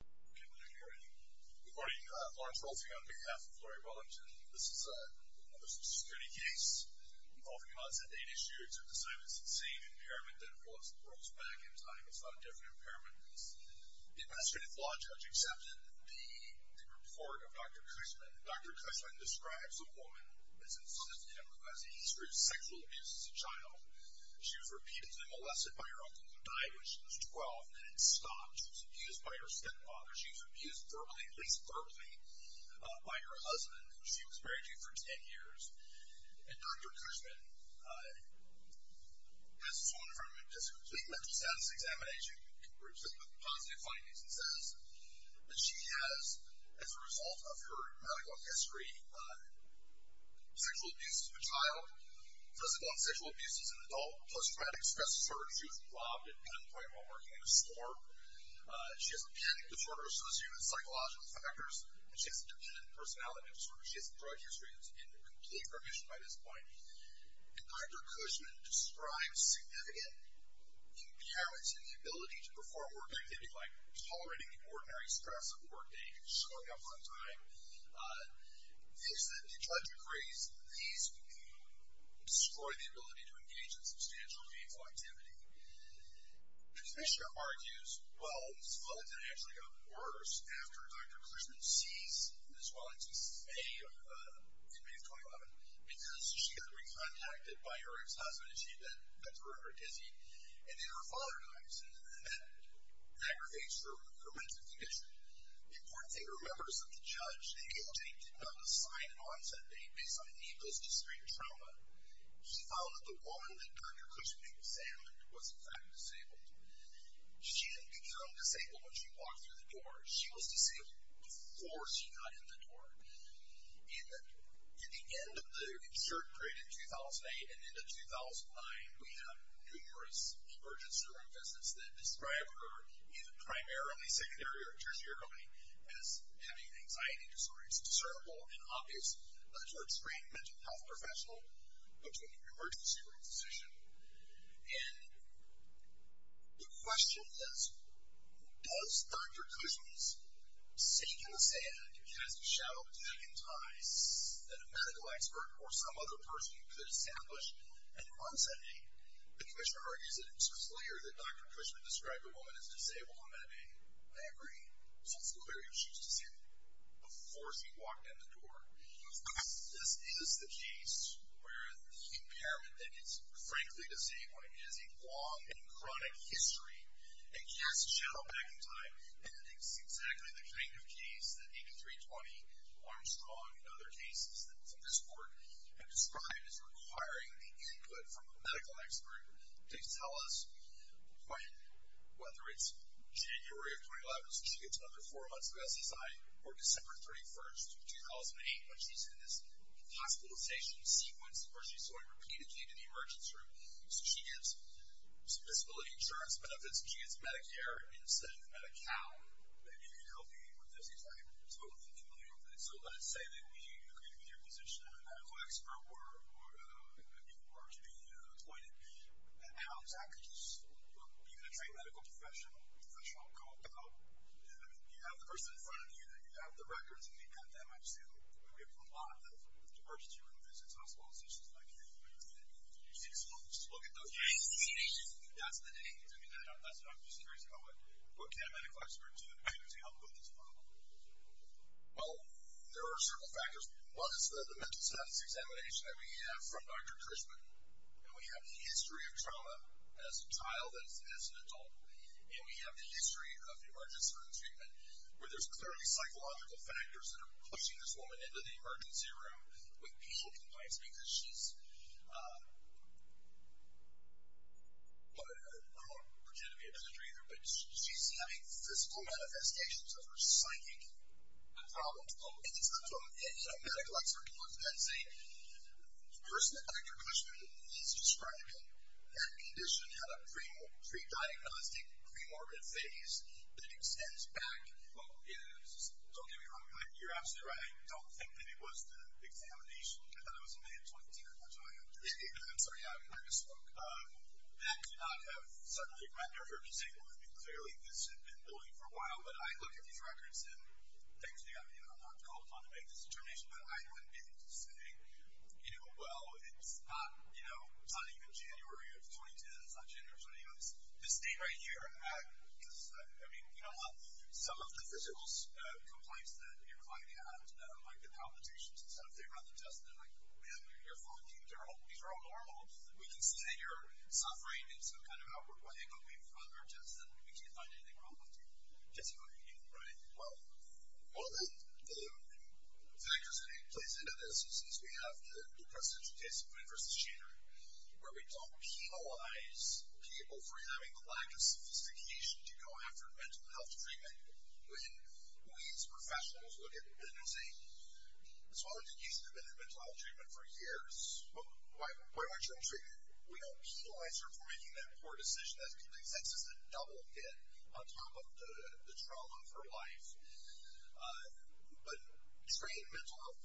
Good morning, Lawrence Rolfing on behalf of Flurry Wellington. This is a criminal justice security case involving an unsubstantiated issue. It's the same impairment that was brought back in time. It's not a different impairment. The investigative law judge accepted the report of Dr. Cushman. Dr. Cushman describes the woman as insensitive and requires a history of sexual abuse as a child. She was repeatedly molested by her uncle, who died when she was 12, and it stopped. She was abused by her stepfather. She was abused verbally, at least verbally, by her husband, who she was married to for 10 years. And Dr. Cushman has a complete mental status examination with positive findings and says that she has, as a result of her medical history, sexual abuse as a child, physical and sexual abuse as an adult, plus traumatic stress disorder. She was robbed at gunpoint while working in a store. She has a panic disorder associated with psychological factors, and she has a dependent personality disorder. She has a drug history that's in complete remission by this point. And Dr. Cushman describes significant impairments in the ability to perform work activities, like tolerating the ordinary stress of workday and showing up on time. Things that the judge agrees, these destroy the ability to engage in substantial meaningful activity. The commissioner argues, well, Ms. Wellington actually got worse after Dr. Cushman ceased Ms. Wellington's stay in May of 2011 because she got re-contacted by her ex-husband, and she then got forever dizzy. And then her father dies, and that aggravates her mental condition. The important thing to remember is that the judge did not assign an onset date based on any post-extreme trauma. He found that the woman that Dr. Cushman examined was, in fact, disabled. She didn't become disabled when she walked through the door. She was disabled before she got in the door. And at the end of the insert period in 2008 and into 2009, we have numerous emergency room visits that describe her, either primarily secondary or tertiary, as having anxiety disorders discernible and obvious to a trained mental health professional, but to an emergency room physician. And the question is, does Dr. Cushman's sink in the sand and cast a shadow back in time that a medical expert or some other person could establish an onset date? The commissioner argues that it was clear that Dr. Cushman described the woman as disabled on that day. I agree. It was also clear that she was disabled before she walked in the door. This is the case where the impairment that is, frankly, disabled has a long and chronic history and casts a shadow back in time. And it's exactly the kind of case that 8320, Armstrong, and other cases from this court have described as requiring the input from a medical expert to tell us when, whether it's January of 2011, so she gets another four months of SSI, or December 31, 2008, when she's in this hospitalization sequence where she's going repeatedly to the emergency room. So she gets some disability insurance benefits. She gets Medicare instead of Medi-Cal. Maybe you can help me with this. Because I'm totally familiar with it. So let's say that we agree with your position that a medical expert were to be appointed. How exactly do you train a medical professional to go about it? I mean, you have the person in front of you. You have the records. And you've got them. I've seen a lot of emergency room visits and hospitalizations like that. You see those? Look at those. That's the day. I mean, that's what I'm just curious about. What can a medical expert do to help with this problem? Well, there are several factors. One is the mental status examination that we have from Dr. Trishman. And we have the history of trauma as a child and as an adult. And we have the history of emergency room treatment, where there's clearly psychological factors that are pushing this woman into the emergency room with pain complaints because she's, well, I don't want to pretend to be a doctor either, but she's having physical manifestations of her psychic problems. And it comes from a medical expert who looks at that and says, the person that Dr. Trishman is describing, that condition had a pre-diagnostic pre-morbid phase that extends back. Well, don't get me wrong. You're absolutely right. I don't think that it was the examination. I thought it was in May of 2010. That's what I understood. I'm sorry. I misspoke. That could not have suddenly rendered her disabled. I mean, clearly this had been going for a while. But I look at these records and thankfully I'm not called upon to make this determination. But I wouldn't be able to say, you know, well, it's not even January of 2010. It's not January of 2010. It's this date right here. I mean, you know what? Some of the physical complaints that you're finding out are like the palpitations. Instead of figuring out the test, they're like, man, you're fine. These are all normal. We can see that you're suffering in some kind of outward way, but we've run our tests and we can't find anything wrong with you. Right. Well, one of the factors that plays into this is we have the presidential case of sophistication to go after mental health treatment. When we as professionals look at a case, as long as a case has been in mental health treatment for years, why aren't you in treatment? We don't penalize her for making that poor decision. That's just a double hit on top of the trauma of her life. But treating mental health,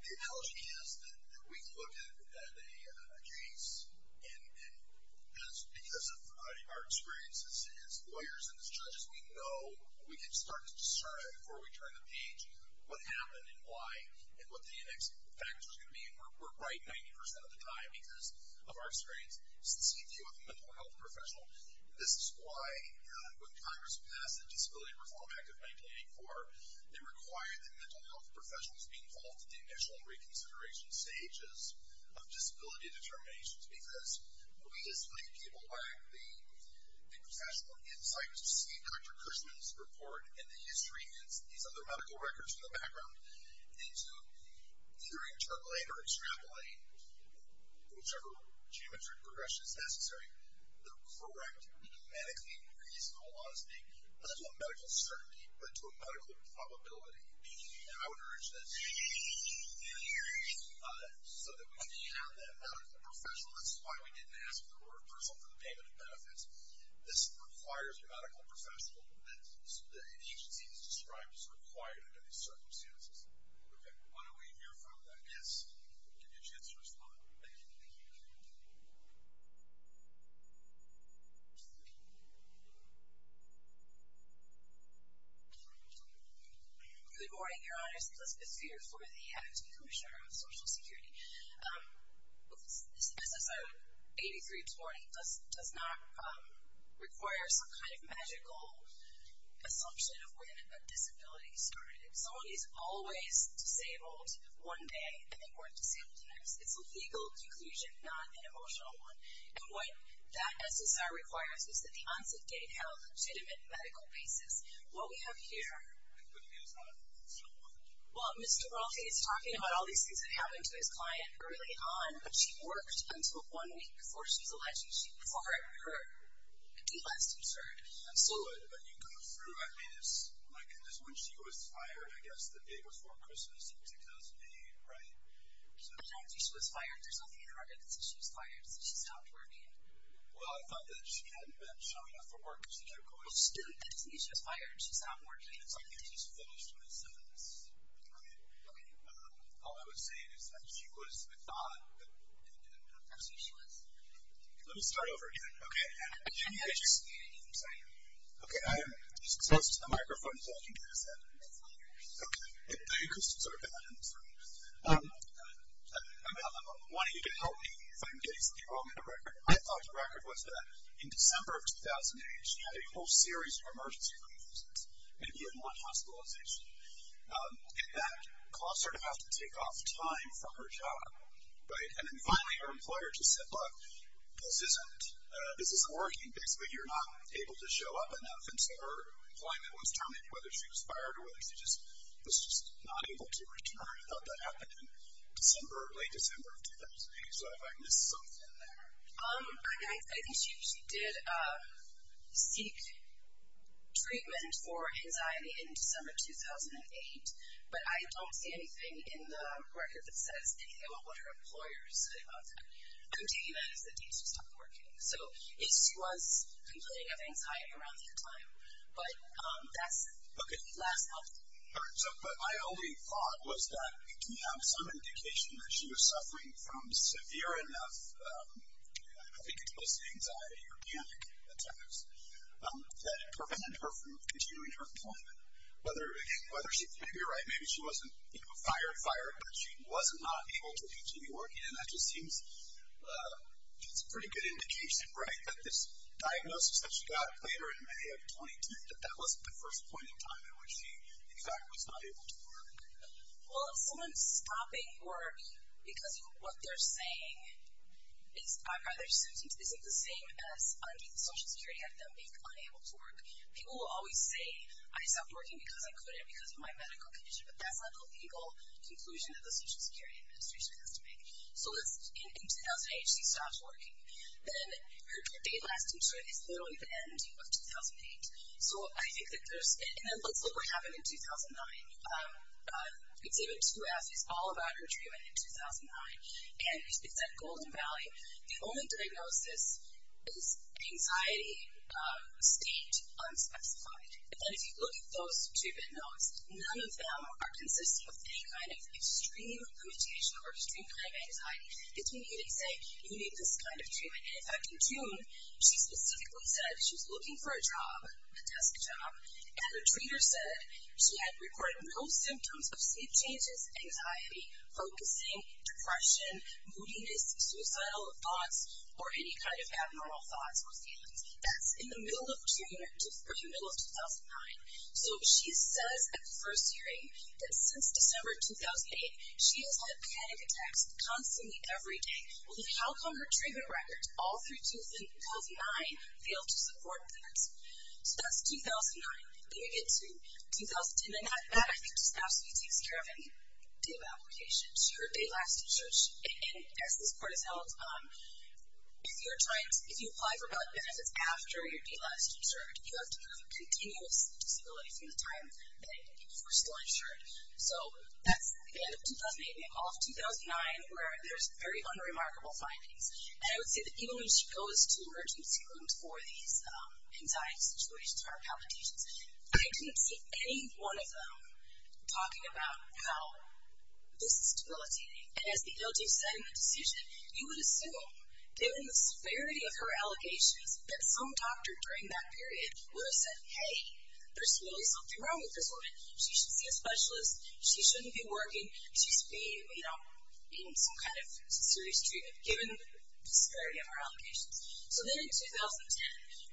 the analogy is that we can look at a case, and because of our experience as lawyers and as judges, we know we can start to discern before we turn the page what happened and why and what the next factors are going to be. And we're right 90% of the time because of our experience as the CTO of a mental health professional. This is why when Congress passed the Disability Reform Act of 1984, they required that mental health professionals be involved in the initial re-consideration stages of disability determinations, because we as lay people lack the professional insight to see Dr. Krishnan's report and the history and these other medical records in the background, and to either interpolate or extrapolate, whichever geometric progression is necessary, the correct, medically reasonable, honestly, not to a medical certainty, but to a medical probability. And I would urge that so that when we have that medical professional, this is why we didn't ask for the word personal for the payment of benefits, this requires a medical professional, the agency is described as required under these circumstances. Okay. Why don't we hear from that guest and give you a chance to respond. Thank you. Thank you. Good morning, Your Honors. Elizabeth Spear for the Acting Commissioner of Social Security. This is a 8320. It does not require some kind of magical assumption of when a disability started. It's a legal conclusion, not an emotional one. And what that SSR requires is that the onset date have a legitimate medical basis. What we have here, well, Mr. Ralfie is talking about all these things that happened to his client early on, but she worked until one week before she was elected. She was far less concerned. Absolutely. But you go through, I mean, it's like when she was fired, I guess the day before Christmas in 2008, right? So it sounds like she was fired. There's nothing in her record that says she was fired. It says she stopped working. Well, I thought that she hadn't been showing up for work. Well, she didn't. It doesn't mean she was fired. She stopped working. It's like she just finished her sentence. Okay. Okay. All I would say is that she was, I thought that. That's who she was. Let me start over again. Okay. I can't hear you. I'm sorry. Okay. So it's just the microphone. It's all you guys have. Okay. You can sort of get that in the screen. I'm wanting you to help me if I'm getting something wrong in the record. I thought the record was that in December of 2008, she had a whole series of emergency releases, and you didn't want hospitalization. And that caused her to have to take off time from her job, right? And then finally, her employer just said, look, this isn't working. Basically, you're not able to show up enough. And so her employment was terminated, whether she was fired or whether she was just not able to return. I thought that happened in December, late December of 2008. So have I missed something there? I think she did seek treatment for anxiety in December 2008, but I don't see anything in the record that says anything about what her employers did about that. I'm taking that as the date she stopped working. So she was complaining of anxiety around that time. But that's it. Okay. Last thought. But my only thought was that we have some indication that she was suffering from severe enough, I think it was anxiety or panic attacks, that prevented her from continuing her employment. Whether she could be right, maybe she wasn't fired, fired, but she was not able to continue working. And that just seems a pretty good indication, right, that this diagnosis that she got later in May of 2010, that that wasn't the first point in time in which she, in fact, was not able to work. Well, if someone's stopping work because of what they're saying, I'd rather assume it isn't the same as Social Security, and them being unable to work. People will always say, I stopped working because I couldn't because of my medical condition. But that's not the legal conclusion that the Social Security Administration has to make. So in 2008, she stopped working. Then her day-lasting strength is literally the end of 2008. So I think that there's, and then let's look what happened in 2009. Exhibit 2 asks us all about her treatment in 2009, and it's at Golden Valley. The only diagnosis is anxiety state unspecified. And if you look at those two bit notes, none of them are consisting of any kind of extreme limitation or extreme kind of anxiety. It's when you say you need this kind of treatment. In fact, in June, she specifically said she was looking for a job, a desk job, and her treater said she had reported no symptoms of sleep changes, anxiety, focusing, depression, moodiness, suicidal thoughts, or any kind of abnormal thoughts or feelings. That's in the middle of June or the middle of 2009. So she says at the first hearing that since December 2008, she has had panic attacks constantly every day. How come her treatment records all through 2009 fail to support that? So that's 2009. Then you get to 2010, and that, I think, just absolutely takes care of any day-of-application. Her day-last insurance, as this court has held, if you apply for blood benefits after you're day-last insured, that you were still insured. So that's the end of 2008, middle of 2009, where there's very unremarkable findings. And I would say that even when she goes to emergency rooms for these anxiety situations or palpitations, I didn't see any one of them talking about how this is debilitating. And as the LT said in the decision, you would assume that in the severity of her allegations that some doctor during that period would have said, hey, there's really something wrong with this woman. She should see a specialist. She shouldn't be working. She should be, you know, in some kind of serious treatment, given the severity of her allegations. So then in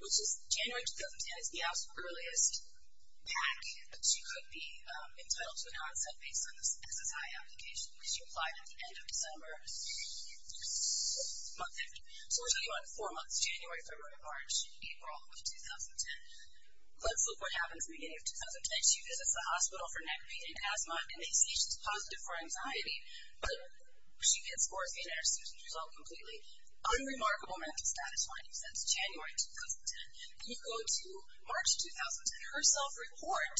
2010, which is January 2010, is the absolute earliest back that she could be entitled to an onset based on this SSI application, because she applied at the end of December. So we're talking about four months, January, February, March, April of 2010. Let's look what happens at the beginning of 2010. Then she visits the hospital for neck pain and asthma, and they say she's positive for anxiety. But she gets worse and her symptoms result completely. Unremarkable mental status findings since January 2010. We go to March 2010. Her self-report,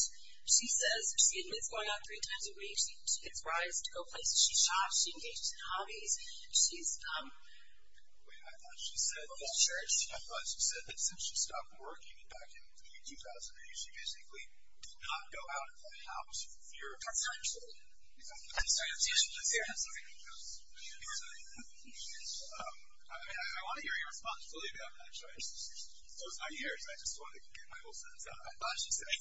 she says she admits going out three times a week. She gets rides to go places. She shops. She engages in hobbies. She's, um. Wait, I thought she said. I thought she said that since she stopped working back in the year 2000, she basically did not go out of the house for your. I'm sorry. I'm sorry. I'm sorry. I'm sorry. I'm sorry. I want to hear your responsibility on that. I'm sorry. So it's not yours. I just wanted to get my whole sentence out. I thought she said.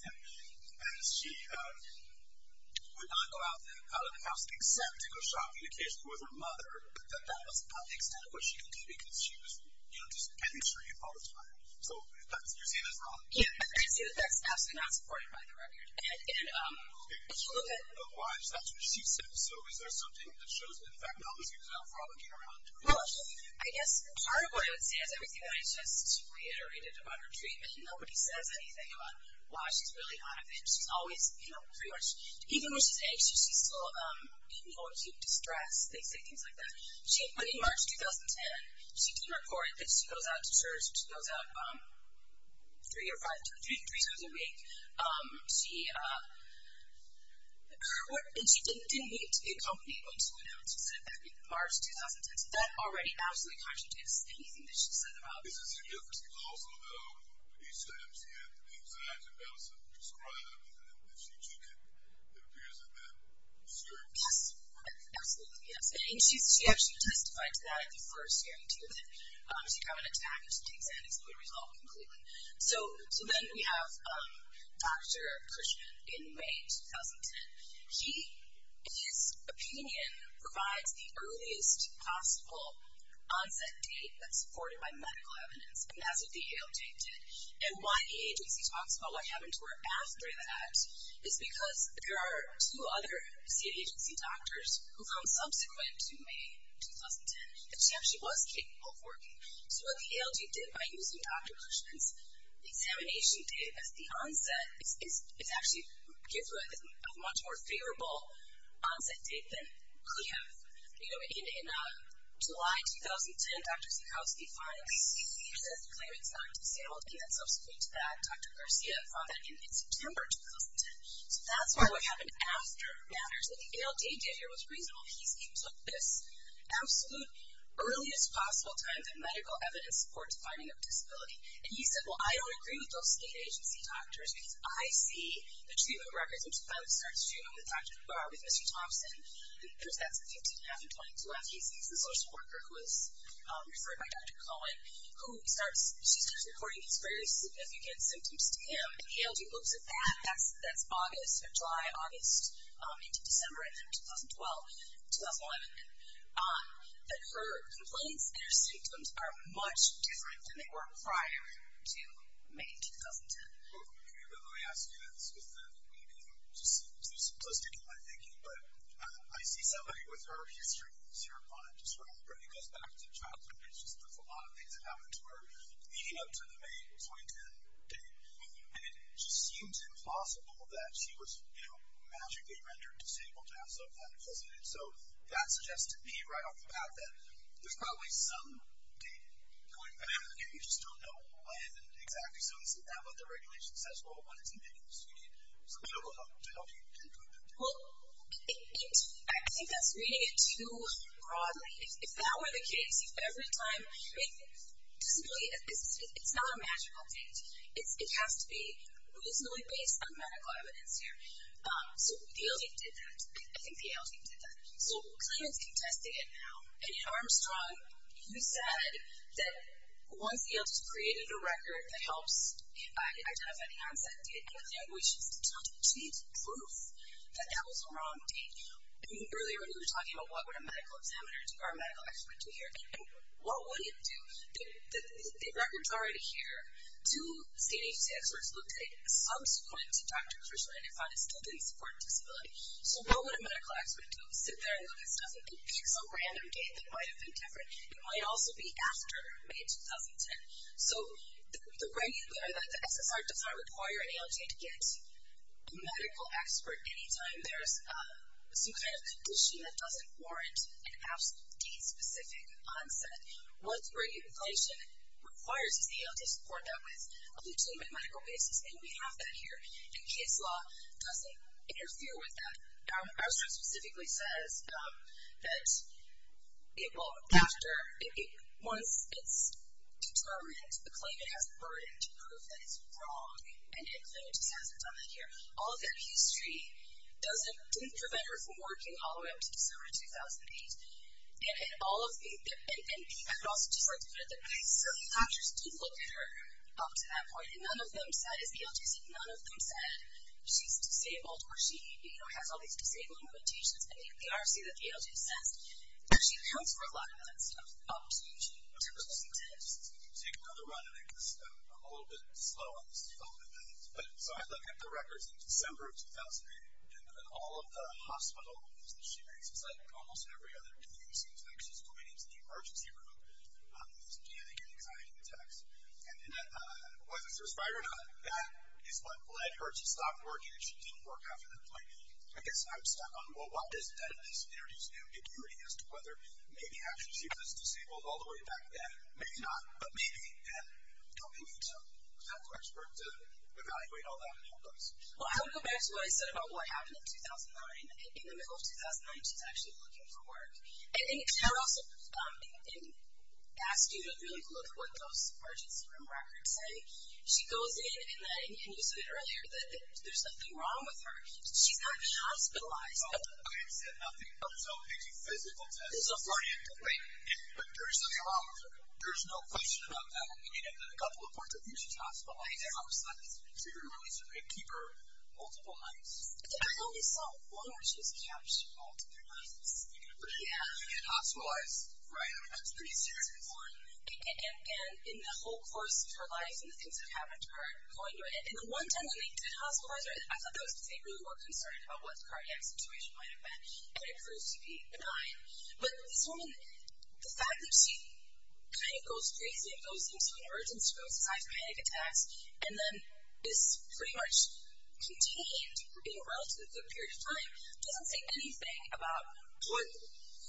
And she would not go out of the house, except to go shopping occasionally with her mother. But that was about the extent of what she could do, because she was, you know, just getting treated all the time. So you're seeing this wrong. Yeah. I can see that that's absolutely not supported by the record. And, um. Okay. Why is that what she said? So is there something that shows that, in fact, all of a sudden she's now frolicking around? Well, I guess part of what I would say is everything that I just reiterated about her treatment. Nobody says anything about why she's really on a binge. She's always, you know, pretty much. Even when she's at age, she's still, you know, in acute distress. They say things like that. In March 2010, she did report that she goes out to church. She goes out three or five times a week. And she didn't need to be accompanied when she went out. She said that in March 2010. So that already absolutely contradicts anything that she said about it. Is there a difference? Because also, though, each time she had anxiety about something prescribed, that she took it, it appears that that scared her. Yes. Absolutely, yes. And she actually testified to that at the first hearing, too. So then we have Dr. Cushman in May 2010. He, in his opinion, provides the earliest possible onset date that's supported by medical evidence. And that's what the ALJ did. And why the agency talks about what happened to her after that is because there are two other state agency doctors who come subsequent to May 2010. And she actually was capable of working. So what the ALJ did by using Dr. Cushman's examination date as the onset, is actually give her a much more favorable onset date than could have. You know, in July 2010, Dr. Cichowski finally sees that the claimant's not disabled. And then subsequent to that, Dr. Garcia found that in September 2010. So that's why what happened after matters. What the ALJ did here was reasonable. He came to this absolute earliest possible time that medical evidence supports finding a disability. And he said, well, I don't agree with those state agency doctors because I see the treatment records, which finally starts with Dr. Barr with Mr. Thompson. Of course, that's in 2012. He's a social worker who was referred by Dr. Cohen. She starts reporting these very significant symptoms to him. And the ALJ looks at that. That's July, August, into December 2012. 2011. But her complaints and her symptoms are much different than they were prior to May 2010. Okay. By the way, I ask you this because maybe I'm just too simplistic in my thinking, but I see somebody with her history, and I see her on it just remembering us back to childhood. It's just there's a lot of things that happened to her leading up to the May 2010 date. And it just seems impossible that she was, you know, magically rendered disabled to have some kind of disability. So that suggests to me right off the bat that there's probably some date going back, and you just don't know when exactly. So how about the regulation says, well, when it's ambiguous? Do you need some medical help to help you conclude that date? Well, I think that's reading it too broadly. If that were the case, every time it doesn't really – it's not a magical date. It has to be reasonably based on medical evidence here. So the ALT did that. I think the ALT did that. So Cleveland's contesting it now. And, you know, Armstrong, you said that once the ALT's created a record that helps identify the onset, we should change the proof that that was a wrong date. Earlier when you were talking about what would a medical examiner do or a medical expert do here, what would it do? The record's already here. Two CNHC experts looked at it. Subsequent to Dr. Krishnan, they found it still didn't support disability. So what would a medical expert do? Sit there and look at stuff. It could be some random date that might have been different. It might also be after May 2010. So the SSR does not require an ALT to get a medical expert anytime there's some kind of condition that doesn't warrant an absolute date-specific onset. What regulation requires is the ALT to report that with a Cleveland medical basis, and we have that here. And case law doesn't interfere with that. Armstrong specifically says that once it's determined a claim, it has a burden to prove that it's wrong. And Cleveland just hasn't done that here. All of that history didn't prevent her from working all the way up to December 2008. And I would also just like to note that certain doctors did look at her up to that point, and none of them said, as the LGC said, none of them said she's disabled or she has all these disabling limitations. I think the RFC that the LGC says that she accounts for a lot of that stuff up to 2010. Let me just take another run at it. I'm a little bit slow on this development. So I look at the records in December of 2008, and all of the hospital visits she makes, it's like almost every other case, it's like she's going into the emergency room with panic and anxiety attacks. And was it certified or not? That is what led her to stop working, and she didn't work after that point. I guess I'm stuck on, well, what does that introduce new security as to whether maybe actually she was disabled all the way back then? Maybe not, but maybe. And don't we need some medical experts to evaluate all that and help us? Well, I would go back to what I said about what happened in 2009. In the middle of 2009, she's actually looking for work. And I would also ask you to really look at what those emergency room records say. She goes in, and you said it earlier, that there's nothing wrong with her. She's not hospitalized. Okay, it said nothing. So it's a physical test. But there is something wrong with her. There is no question about that. I mean, in a couple of points, I think she's hospitalized. I understand. So you're going to release her and keep her multiple nights. I only saw one where she was captured multiple nights. Yeah. And hospitalized, right? I mean, that's pretty serious. It's important. And in the whole course of her life and the things that happened to her going through it, in the one time when they did hospitalize her, I thought that was because they really were concerned about what the cardiac situation might have been. And it proves to be benign. But this woman, the fact that she kind of goes crazy and goes into an emergency room besides panic attacks, and then is pretty much contained in a relatively good period of time, doesn't say anything about what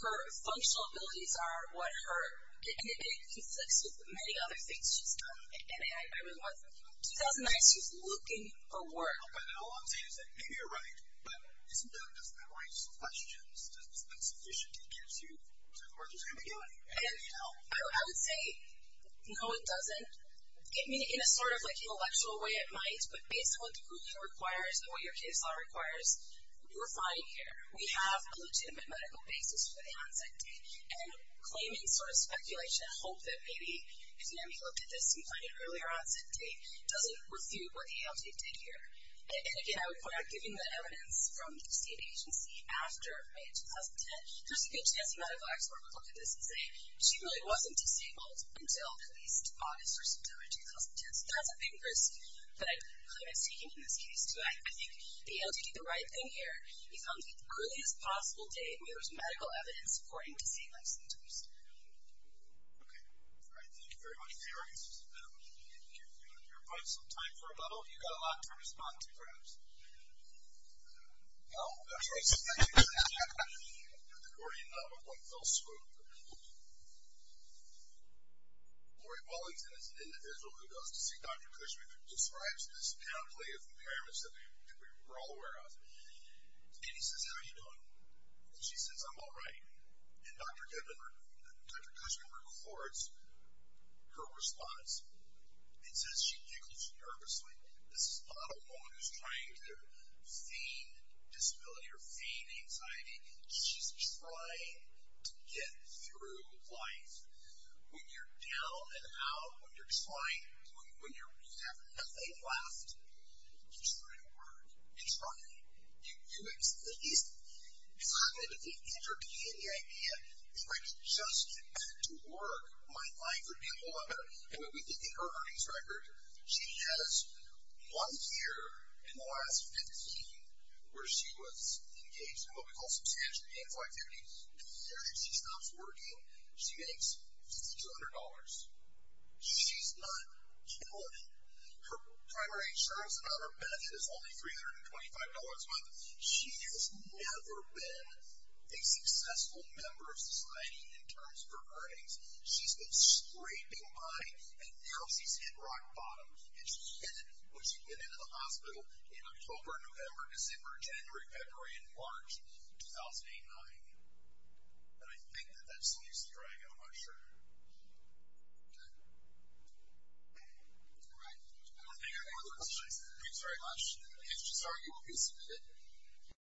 her functional abilities are, what her, and it conflicts with many other things she's done. And I really want to say, in 2009, she was looking for work. I don't know if that all I'm saying is that maybe you're right, but doesn't that raise some questions? Does that sufficiently get you to the point where there's going to be any help? I would say, no, it doesn't. In a sort of like intellectual way, it might. But based on what the ruling requires and what your case law requires, we're fine here. We have a legitimate medical basis for the onset date. And claiming sort of speculation and hope that maybe, you know, you looked at this and doesn't refute what the ALT did here. And again, I would point out, given the evidence from the state agency after May of 2010, there's a good chance a medical expert would look at this and say, she really wasn't disabled until at least August or September of 2010. So that's a big risk that I claim is taken in this case, too. I think the ALT did the right thing here. He found the earliest possible date when there was medical evidence supporting disabled symptoms. Okay. All right. Thank you very much, Gary. This has been a pleasure to meet you. Do you have some time for a bubble? Do you have a lot to respond to, perhaps? No? That's all right. Thank you. The Gordian Bubble. One fell swoop. Lori Wellington is an individual who goes to see Dr. Kushwick and describes the astoundingly of impairments that we're all aware of. And he says, how are you doing? And she says, I'm all right. And Dr. Kushwick records her response and says she giggles nervously. This is not a woman who's trying to feign disability or feign anxiety. She's trying to get through life. When you're down and out, when you're just fine, when you have nothing left, you're starting to work. It's running. If I could just get back to work, my life would be a lot better. And when we look at her earnings record, she has one year in the last 15 where she was engaged in what we call substantial gainful activity. The year that she stops working, she makes $1,200. She's not killing it. Her primary insurance on her bed is only $325 a month. She has never been a successful member of society in terms of her earnings. She's been scraping by, and now she's hit rock bottom. And she hit it when she went into the hospital in October, November, December, January, February, and March of 2009. And I think that that's Lucy Dragon, I'm not sure. Okay. All right. I don't want to take any more of your questions. Thank you very much. If you just argue, we'll be assuming it.